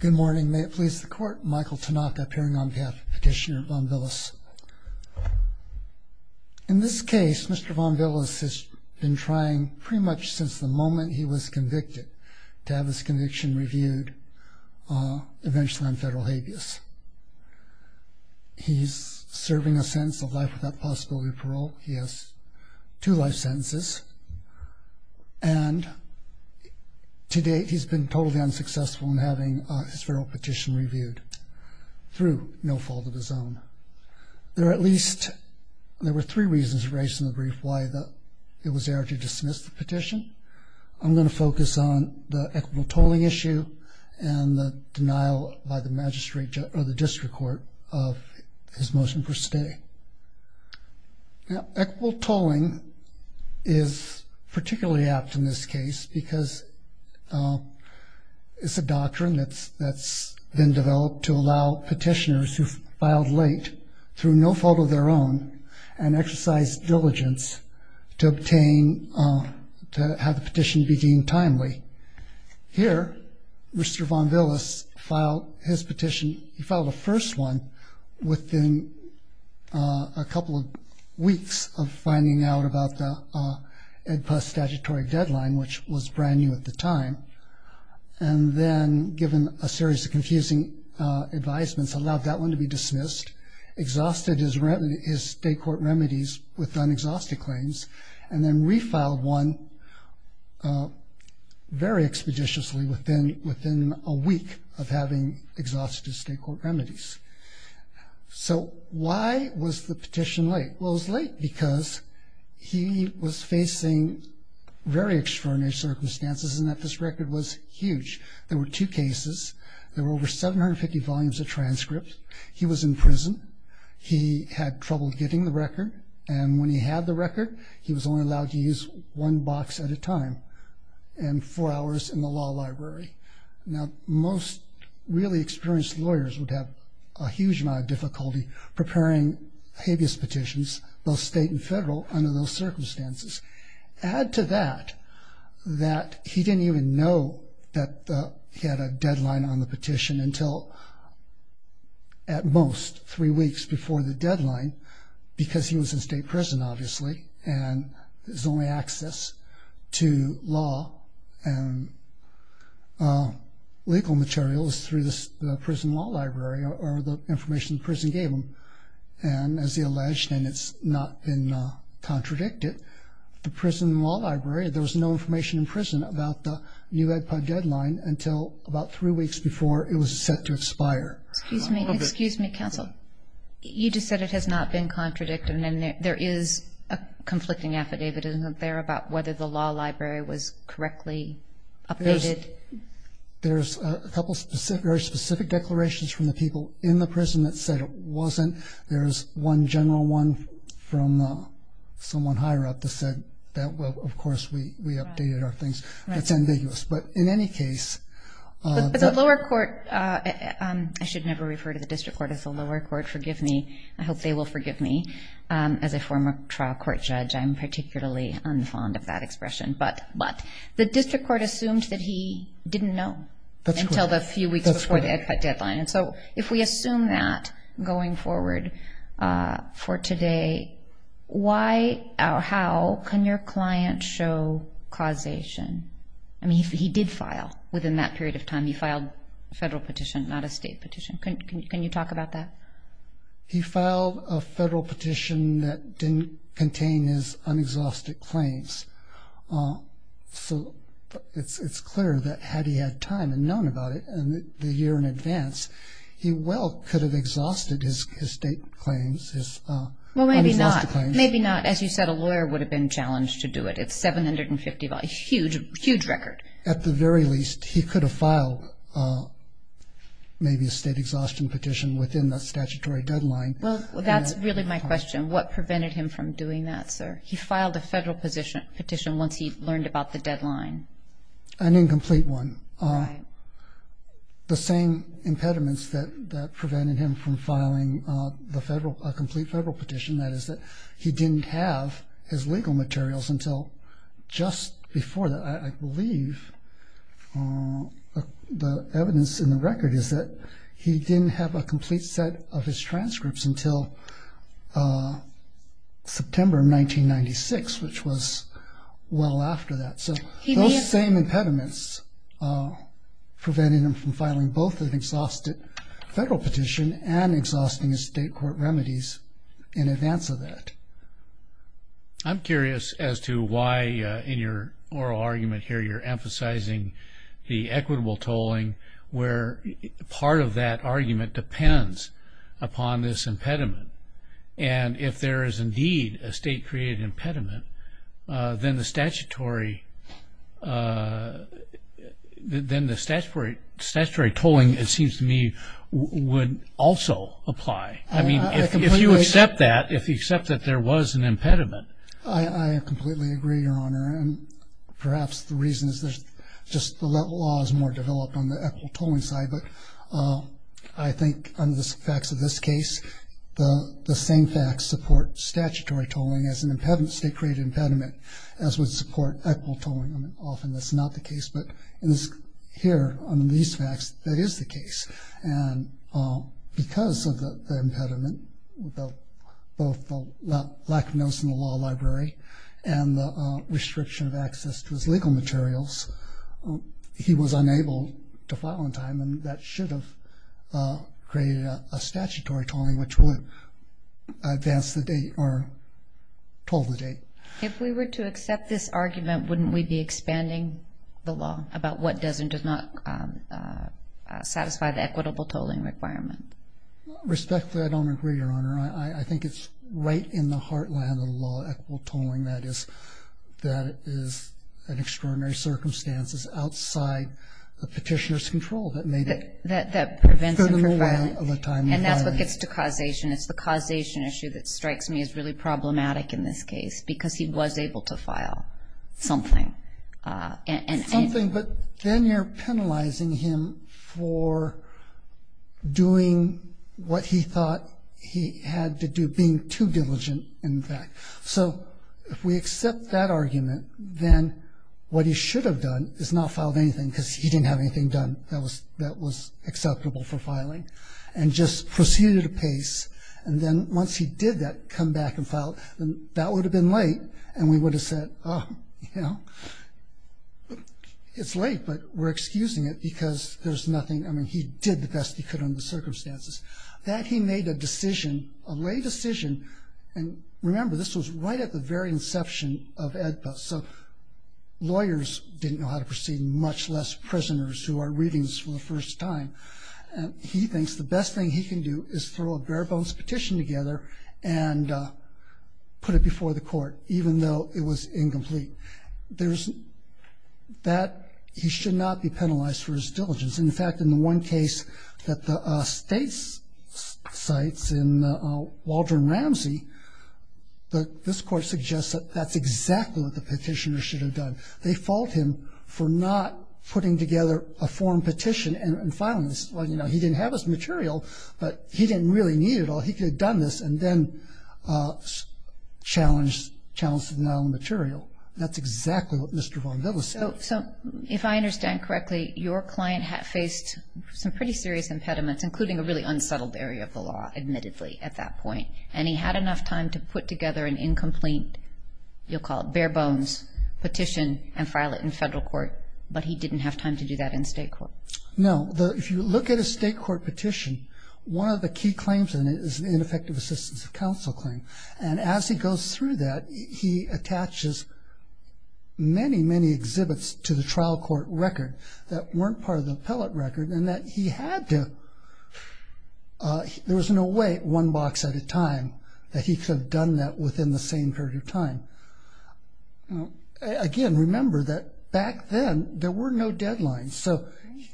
Good morning. May it please the court. Michael Tanaka appearing on behalf of Petitioner Von Villas. In this case, Mr. Von Villas has been trying pretty much since the moment he was convicted to have his conviction reviewed eventually on federal habeas. He's serving a sentence of life without possibility of parole. He has two life sentences. And to date, he's been totally unsuccessful in having his federal petition reviewed through no fault of his own. There are at least, there were three reasons raised in the brief why it was there to dismiss the petition. I'm going to focus on the equitable tolling issue and the denial by the magistrate or the district court of his motion for stay. Equitable tolling is particularly apt in this case because it's a doctrine that's been developed to allow petitioners who filed late through no fault of their own and exercised diligence to obtain, to have the petition be deemed timely. Here, Mr. Von Villas filed his petition, he filed the first one within a couple of weeks of finding out about the EDPUS statutory deadline, which was brand new at the time, and then given a series of confusing advisements allowed that one to be dismissed, exhausted his state court remedies with unexhausted claims, and then refiled one very expeditiously within a week of having exhausted his state court remedies. So why was the petition late? Well, it was late because he was facing very extraordinary circumstances in that this record was huge. There were two cases. There were over 750 volumes of transcripts. He was in prison. He had trouble getting the record, and when he had the record, he was only allowed to use one box at a time and four hours in the law library. Now, most really experienced lawyers would have a huge amount of difficulty preparing habeas petitions, both state and federal, under those circumstances. Add to that that he didn't even know that he had a deadline on the petition until, at most, three weeks before the deadline, because he was in state prison, obviously, and his only access to law and legal material is through the prison law library or the information the prison gave him. And as he alleged, and it's not been contradicted, the prison law library, there was no information in prison about the new EDPOD deadline until about three weeks before it was set to expire. Excuse me. Excuse me, counsel. You just said it has not been contradicted, and there is a conflicting affidavit. Isn't there about whether the law library was correctly updated? There's a couple of very specific declarations from the people in the prison that said it wasn't. There's one general one from someone higher up that said that, well, of course, we updated our things. That's ambiguous. But in any case. The lower court, I should never refer to the district court as the lower court. Forgive me. I hope they will forgive me. As a former trial court judge, I'm particularly unfond of that expression. But the district court assumed that he didn't know until the few weeks before the EDPOD deadline. And so if we assume that going forward for today, how can your client show causation? I mean, he did file within that period of time. He filed a federal petition, not a state petition. Can you talk about that? He filed a federal petition that didn't contain his unexhausted claims. So it's clear that had he had time and known about it the year in advance, he well could have exhausted his state claims. Well, maybe not. Maybe not. As you said, a lawyer would have been challenged to do it. It's 750, a huge, huge record. At the very least, he could have filed maybe a state exhaustion petition within the statutory deadline. Well, that's really my question. What prevented him from doing that, sir? He filed a federal petition once he learned about the deadline. An incomplete one. Right. The same impediments that prevented him from filing a complete federal petition, that is that he didn't have his legal materials until just before that. I believe the evidence in the record is that he didn't have a complete set of his transcripts until September 1996, which was well after that. So those same impediments prevented him from filing both an exhausted federal petition and exhausting his state court remedies in advance of that. I'm curious as to why in your oral argument here you're emphasizing the equitable tolling, where part of that argument depends upon this impediment. And if there is indeed a state-created impediment, then the statutory tolling, it seems to me, would also apply. I mean, if you accept that, if you accept that there was an impediment. I completely agree, Your Honor. And perhaps the reason is just the law is more developed on the equitable tolling side. But I think under the facts of this case, the same facts support statutory tolling as an impediment, state-created impediment, as would support equitable tolling. Often that's not the case. But here, under these facts, that is the case. And because of the impediment, both the lack of notes in the law library and the restriction of access to his legal materials, he was unable to file in time. And that should have created a statutory tolling which would advance the date or toll the date. If we were to accept this argument, wouldn't we be expanding the law about what does and does not satisfy the equitable tolling requirement? Respectfully, I don't agree, Your Honor. I think it's right in the heartland of the law, equitable tolling, that is an extraordinary circumstance outside the petitioner's control that made it. That prevents him from filing. And that's what gets to causation. It's the causation issue that strikes me as really problematic in this case, because he was able to file something. Something, but then you're penalizing him for doing what he thought he had to do, being too diligent in fact. So if we accept that argument, then what he should have done is not filed anything, because he didn't have anything done that was acceptable for filing, and just proceeded at a pace. And then once he did that, come back and file, that would have been late, and we would have said, oh, you know, it's late, but we're excusing it, because there's nothing. I mean, he did the best he could under the circumstances. That he made a decision, a lay decision, and remember this was right at the very inception of AEDPA, so lawyers didn't know how to proceed, much less prisoners who are reading this for the first time. He thinks the best thing he can do is throw a bare-bones petition together and put it before the court, even though it was incomplete. That he should not be penalized for his diligence. In fact, in the one case that the state cites in Waldron Ramsey, this court suggests that that's exactly what the petitioner should have done. They fault him for not putting together a form petition and filing this. Well, you know, he didn't have his material, but he didn't really need it all. He could have done this and then challenged the non-material. That's exactly what Mr. Von Dittel said. So, if I understand correctly, your client faced some pretty serious impediments, including a really unsettled area of the law, admittedly, at that point, and he had enough time to put together an incomplete, you'll call it bare-bones, petition and file it in federal court, but he didn't have time to do that in state court. No. If you look at a state court petition, one of the key claims in it is the ineffective assistance of counsel claim, and as he goes through that, he attaches many, many exhibits to the trial court record that weren't part of the appellate record and that he had to, there was no way, one box at a time, that he could have done that within the same period of time. Again, remember that back then, there were no deadlines, so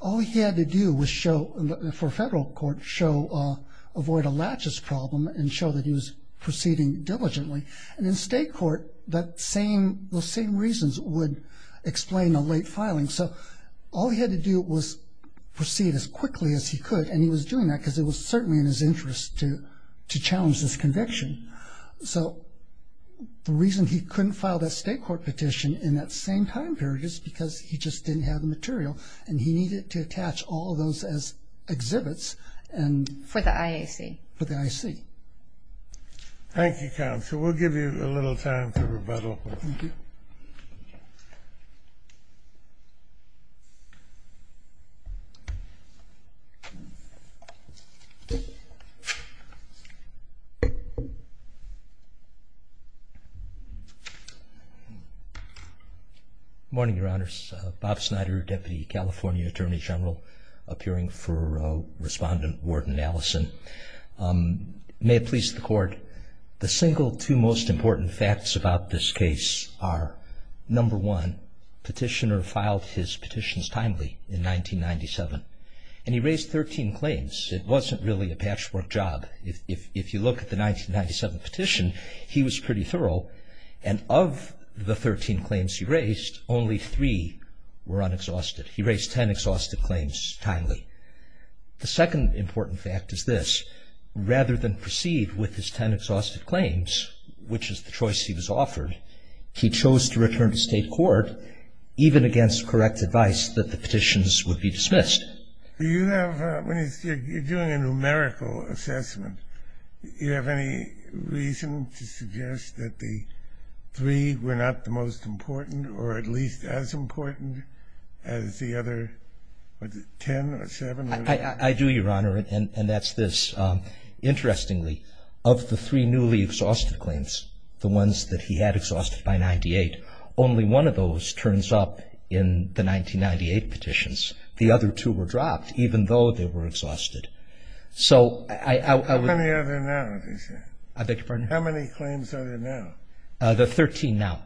all he had to do was show, for federal court, show avoid a latches problem and show that he was proceeding diligently, and in state court, those same reasons would explain a late filing. So all he had to do was proceed as quickly as he could, and he was doing that because it was certainly in his interest to challenge this conviction. So the reason he couldn't file that state court petition in that same time period is because he just didn't have the material, and he needed to attach all of those as exhibits. For the IAC. For the IAC. Thank you, counsel. We'll give you a little time to rebuttal. Thank you. Good morning, Your Honors. Bob Snyder, Deputy California Attorney General, appearing for Respondent Warden Allison. May it please the Court, the single two most important facts about this case are, number one, petitioner filed his petitions timely in 1997, and he raised 13 claims. It wasn't really a patchwork job. If you look at the 1997 petition, he was pretty thorough, and of the 13 claims he raised, only three were unexhausted. He raised 10 exhausted claims timely. The second important fact is this. Rather than proceed with his 10 exhausted claims, which is the choice he was offered, he chose to return to state court, even against correct advice that the petitions would be dismissed. Do you have, when you're doing a numerical assessment, do you have any reason to suggest that the three were not the most important or at least as important as the other 10 or 7? I do, Your Honor, and that's this. Interestingly, of the three newly exhausted claims, the ones that he had exhausted by 1998, only one of those turns up in the 1998 petitions. The other two were dropped, even though they were exhausted. How many are there now? I beg your pardon? How many claims are there now? There are 13 now.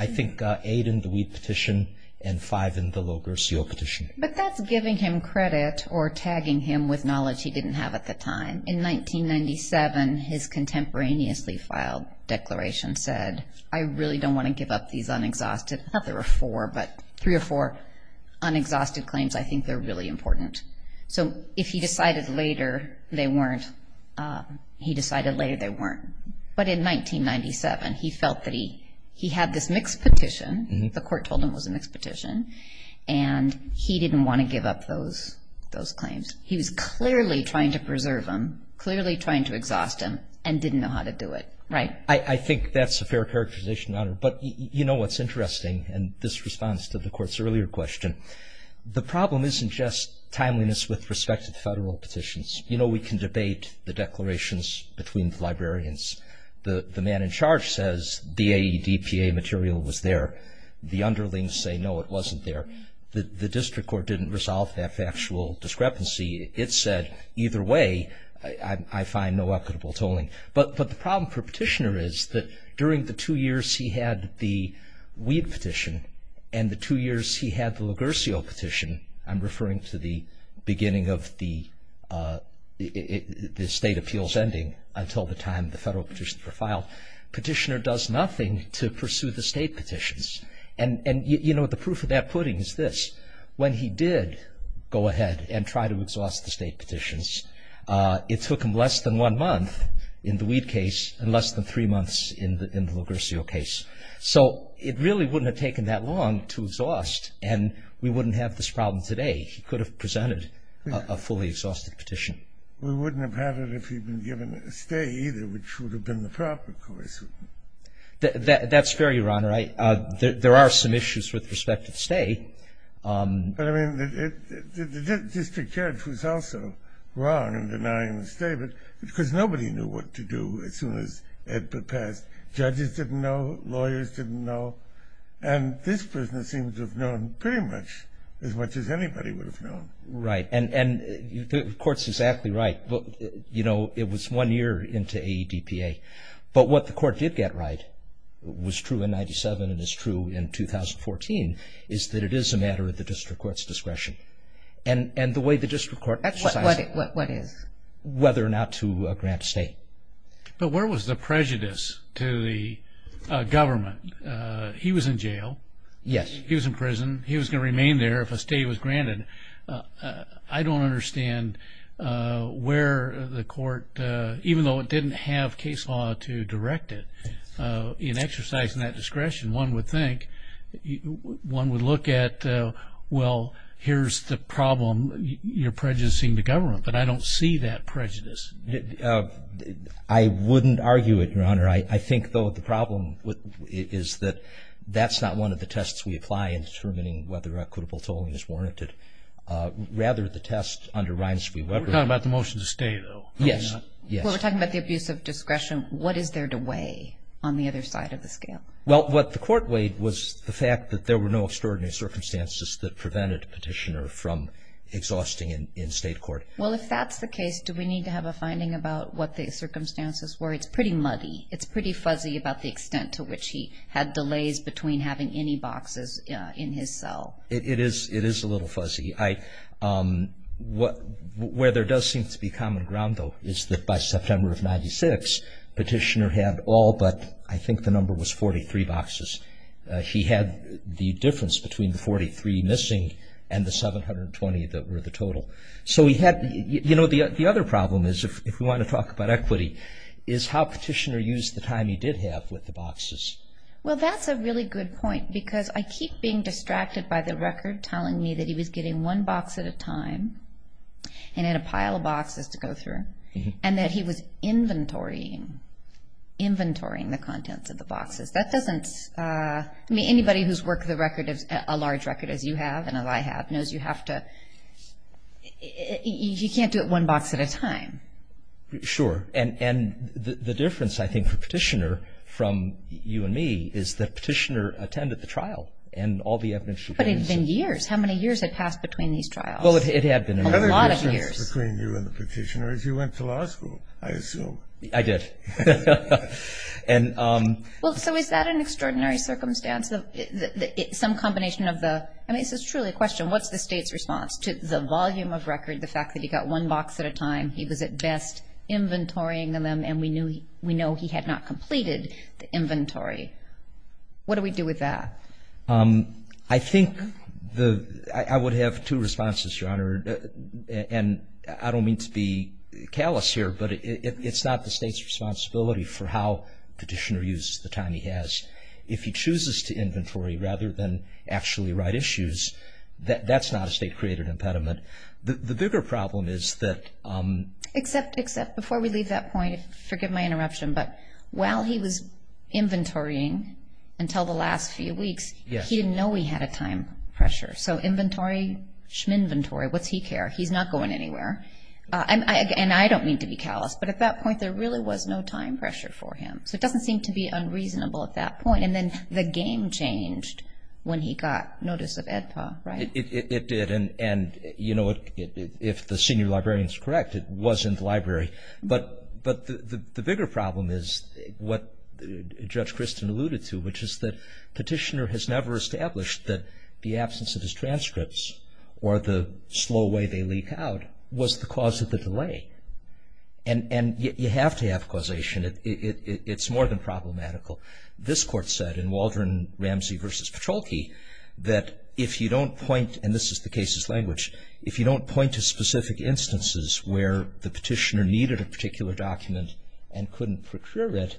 I think 8 in the Weed Petition and 5 in the Logarcio Petition. But that's giving him credit or tagging him with knowledge he didn't have at the time. In 1997, his contemporaneously filed declaration said, I really don't want to give up these unexhausted. I thought there were four, but three or four unexhausted claims, I think they're really important. So if he decided later they weren't, he decided later they weren't. But in 1997, he felt that he had this mixed petition. The court told him it was a mixed petition, and he didn't want to give up those claims. He was clearly trying to preserve them, clearly trying to exhaust them, and didn't know how to do it. Right? I think that's a fair characterization, Honor. But you know what's interesting in this response to the court's earlier question? The problem isn't just timeliness with respect to the federal petitions. You know we can debate the declarations between the librarians. The man in charge says the AEDPA material was there. The underlings say, no, it wasn't there. The district court didn't resolve that factual discrepancy. It said, either way, I find no equitable tolling. But the problem for Petitioner is that during the two years he had the Weed petition and the two years he had the Lugersio petition, I'm referring to the beginning of the state appeals ending until the time the federal petitions were filed, Petitioner does nothing to pursue the state petitions. And, you know, the proof of that pudding is this. When he did go ahead and try to exhaust the state petitions, it took him less than one month in the Weed case and less than three months in the Lugersio case. So it really wouldn't have taken that long to exhaust, and we wouldn't have this problem today. He could have presented a fully exhausted petition. We wouldn't have had it if he'd been given a stay either, which would have been the proper course. That's fair, Your Honor. There are some issues with respect to the stay. But, I mean, the district judge was also wrong in denying the stay because nobody knew what to do as soon as it passed. Judges didn't know. Lawyers didn't know. And this prisoner seems to have known pretty much as much as anybody would have known. Right. And the court's exactly right. You know, it was one year into AEDPA. But what the court did get right, was true in 97 and is true in 2014, is that it is a matter of the district court's discretion. And the way the district court decides whether or not to grant a stay. But where was the prejudice to the government? He was in jail. Yes. He was in prison. He was going to remain there if a stay was granted. I don't understand where the court, even though it didn't have case law to direct it, in exercising that discretion, one would think, one would look at, well, here's the problem. You're prejudicing the government. But I don't see that prejudice. I wouldn't argue it, Your Honor. I think, though, the problem is that that's not one of the tests we apply in determining whether equitable tolling is warranted. Rather, the test underrides what we've done. We're talking about the motion to stay, though. Yes. We're talking about the abuse of discretion. What is there to weigh on the other side of the scale? Well, what the court weighed was the fact that there were no extraordinary circumstances that prevented a petitioner from exhausting in state court. Well, if that's the case, do we need to have a finding about what the circumstances were? It's pretty muddy. It's pretty fuzzy about the extent to which he had delays between having any boxes in his cell. It is a little fuzzy. Where there does seem to be common ground, though, is that by September of 1996, Petitioner had all but, I think the number was, 43 boxes. He had the difference between the 43 missing and the 720 that were the total. So he had the other problem is, if we want to talk about equity, is how Petitioner used the time he did have with the boxes. Well, that's a really good point, because I keep being distracted by the record telling me that he was getting one box at a time and had a pile of boxes to go through, and that he was inventorying the contents of the boxes. That doesn't, I mean, anybody who's worked a large record as you have and as I have knows you have to, you can't do it one box at a time. Sure. And the difference, I think, for Petitioner from you and me, is that Petitioner attended the trial and all the evidence. But it had been years. How many years had passed between these trials? Well, it had been a lot of years. Another difference between you and the Petitioner is you went to law school, I assume. I did. Well, so is that an extraordinary circumstance? Some combination of the, I mean, this is truly a question. What's the state's response to the volume of record, the fact that he got one box at a time? He was at best inventorying them, and we know he had not completed the inventory. What do we do with that? I think I would have two responses, Your Honor, and I don't mean to be callous here, but it's not the state's responsibility for how Petitioner uses the time he has. If he chooses to inventory rather than actually write issues, that's not a state-created impediment. The bigger problem is that – Except before we leave that point, forgive my interruption, but while he was inventorying until the last few weeks, he didn't know he had a time pressure. So inventory, schminventory, what's he care? He's not going anywhere. And I don't mean to be callous, but at that point there really was no time pressure for him. So it doesn't seem to be unreasonable at that point. And then the game changed when he got notice of AEDPA, right? It did. And, you know, if the senior librarian is correct, it was in the library. But the bigger problem is what Judge Christin alluded to, which is that Petitioner has never established that the absence of his transcripts or the slow way they leak out was the cause of the delay. And you have to have causation. It's more than problematical. This Court said in Waldron-Ramsey v. Petrolke that if you don't point, and this is the case's language, if you don't point to specific instances where the Petitioner needed a particular document and couldn't procure it,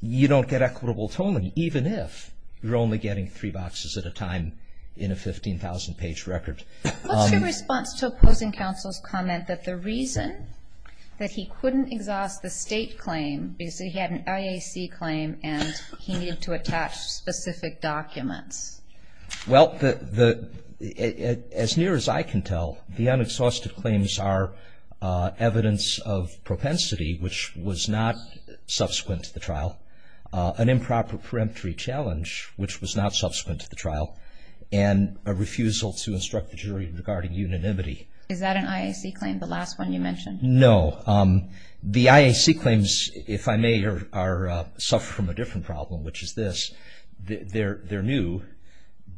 you don't get equitable tolling, even if you're only getting three boxes at a time in a 15,000-page record. What's your response to opposing counsel's comment that the reason that he couldn't exhaust the state claim is that he had an IAC claim and he needed to attach specific documents? Well, as near as I can tell, the unexhausted claims are evidence of propensity, which was not subsequent to the trial, an improper preemptory challenge, which was not subsequent to the trial, and a refusal to instruct the jury regarding unanimity. Is that an IAC claim, the last one you mentioned? No. The IAC claims, if I may, suffer from a different problem, which is this. They're new,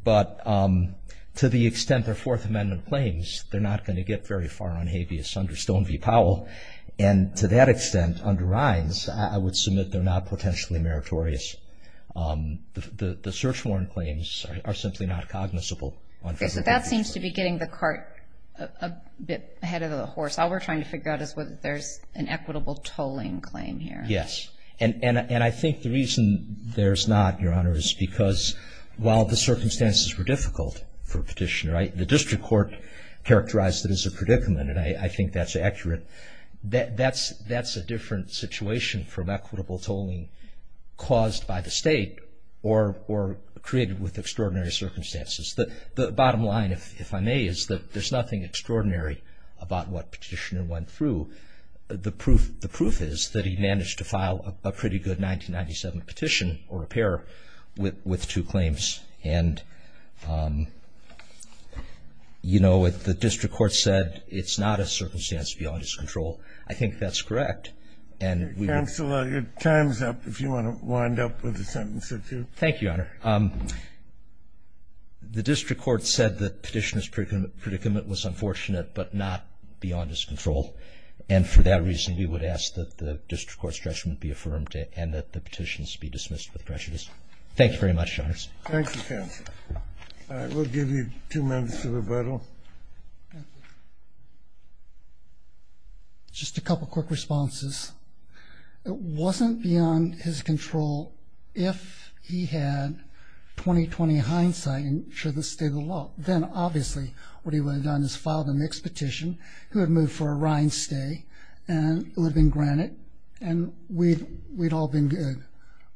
but to the extent they're Fourth Amendment claims, they're not going to get very far on habeas under Stone v. Powell, and to that extent under Rines, I would submit they're not potentially meritorious. The search warrant claims are simply not cognizable. Okay, so that seems to be getting the cart a bit ahead of the horse. All we're trying to figure out is whether there's an equitable tolling claim here. Yes, and I think the reason there's not, Your Honor, is because while the circumstances were difficult for Petitioner, the district court characterized it as a predicament, and I think that's accurate, that's a different situation from equitable tolling caused by the state or created with extraordinary circumstances. The bottom line, if I may, is that there's nothing extraordinary about what Petitioner went through. The proof is that he managed to file a pretty good 1997 petition or a pair with two claims, and, you know, the district court said it's not a circumstance beyond his control. I think that's correct. Counsel, your time's up if you want to wind up with a sentence or two. Thank you, Your Honor. The district court said that Petitioner's predicament was unfortunate but not beyond his control, and for that reason we would ask that the district court's judgment be affirmed and that the petition be dismissed with prejudice. Thank you very much, Your Honor. Thank you, counsel. All right, we'll give you two minutes to rebuttal. Just a couple quick responses. It wasn't beyond his control if he had 20-20 hindsight and should have stayed the law. Then, obviously, what he would have done is filed a mixed petition. He would have moved for a rind stay, and it would have been granted, and we'd all been good.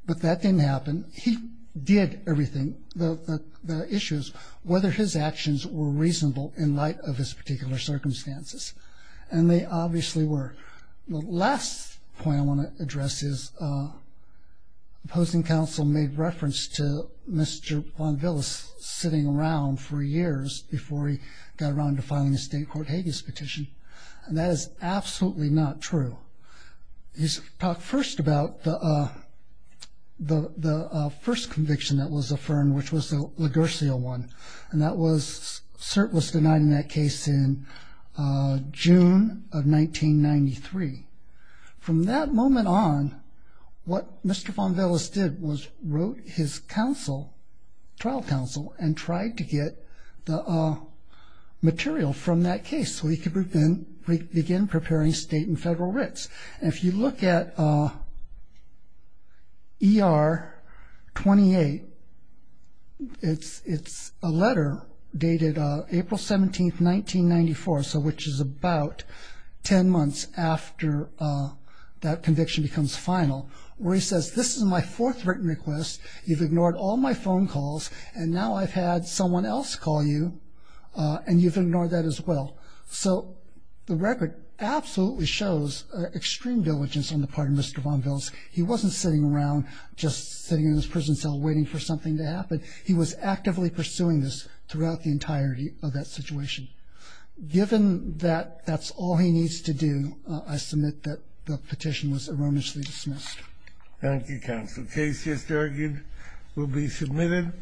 But that didn't happen. He did everything, the issues, whether his actions were reasonable in light of his particular circumstances, and they obviously were. The last point I want to address is opposing counsel made reference to Mr. Von Willis sitting around for years before he got around to filing a state court habeas petition, and that is absolutely not true. He talked first about the first conviction that was affirmed, which was the LaGurcia one, and that was denied in that case in June of 1993. From that moment on, what Mr. Von Willis did was wrote his trial counsel and tried to get the material from that case so he could begin preparing state and federal writs. If you look at ER 28, it's a letter dated April 17, 1994, which is about 10 months after that conviction becomes final, where he says, this is my fourth written request. You've ignored all my phone calls, and now I've had someone else call you, and you've ignored that as well. So the record absolutely shows extreme diligence on the part of Mr. Von Willis. He wasn't sitting around just sitting in his prison cell waiting for something to happen. He was actively pursuing this throughout the entirety of that situation. Given that that's all he needs to do, I submit that the petition was erroneously dismissed. Thank you, counsel. Case just argued will be submitted.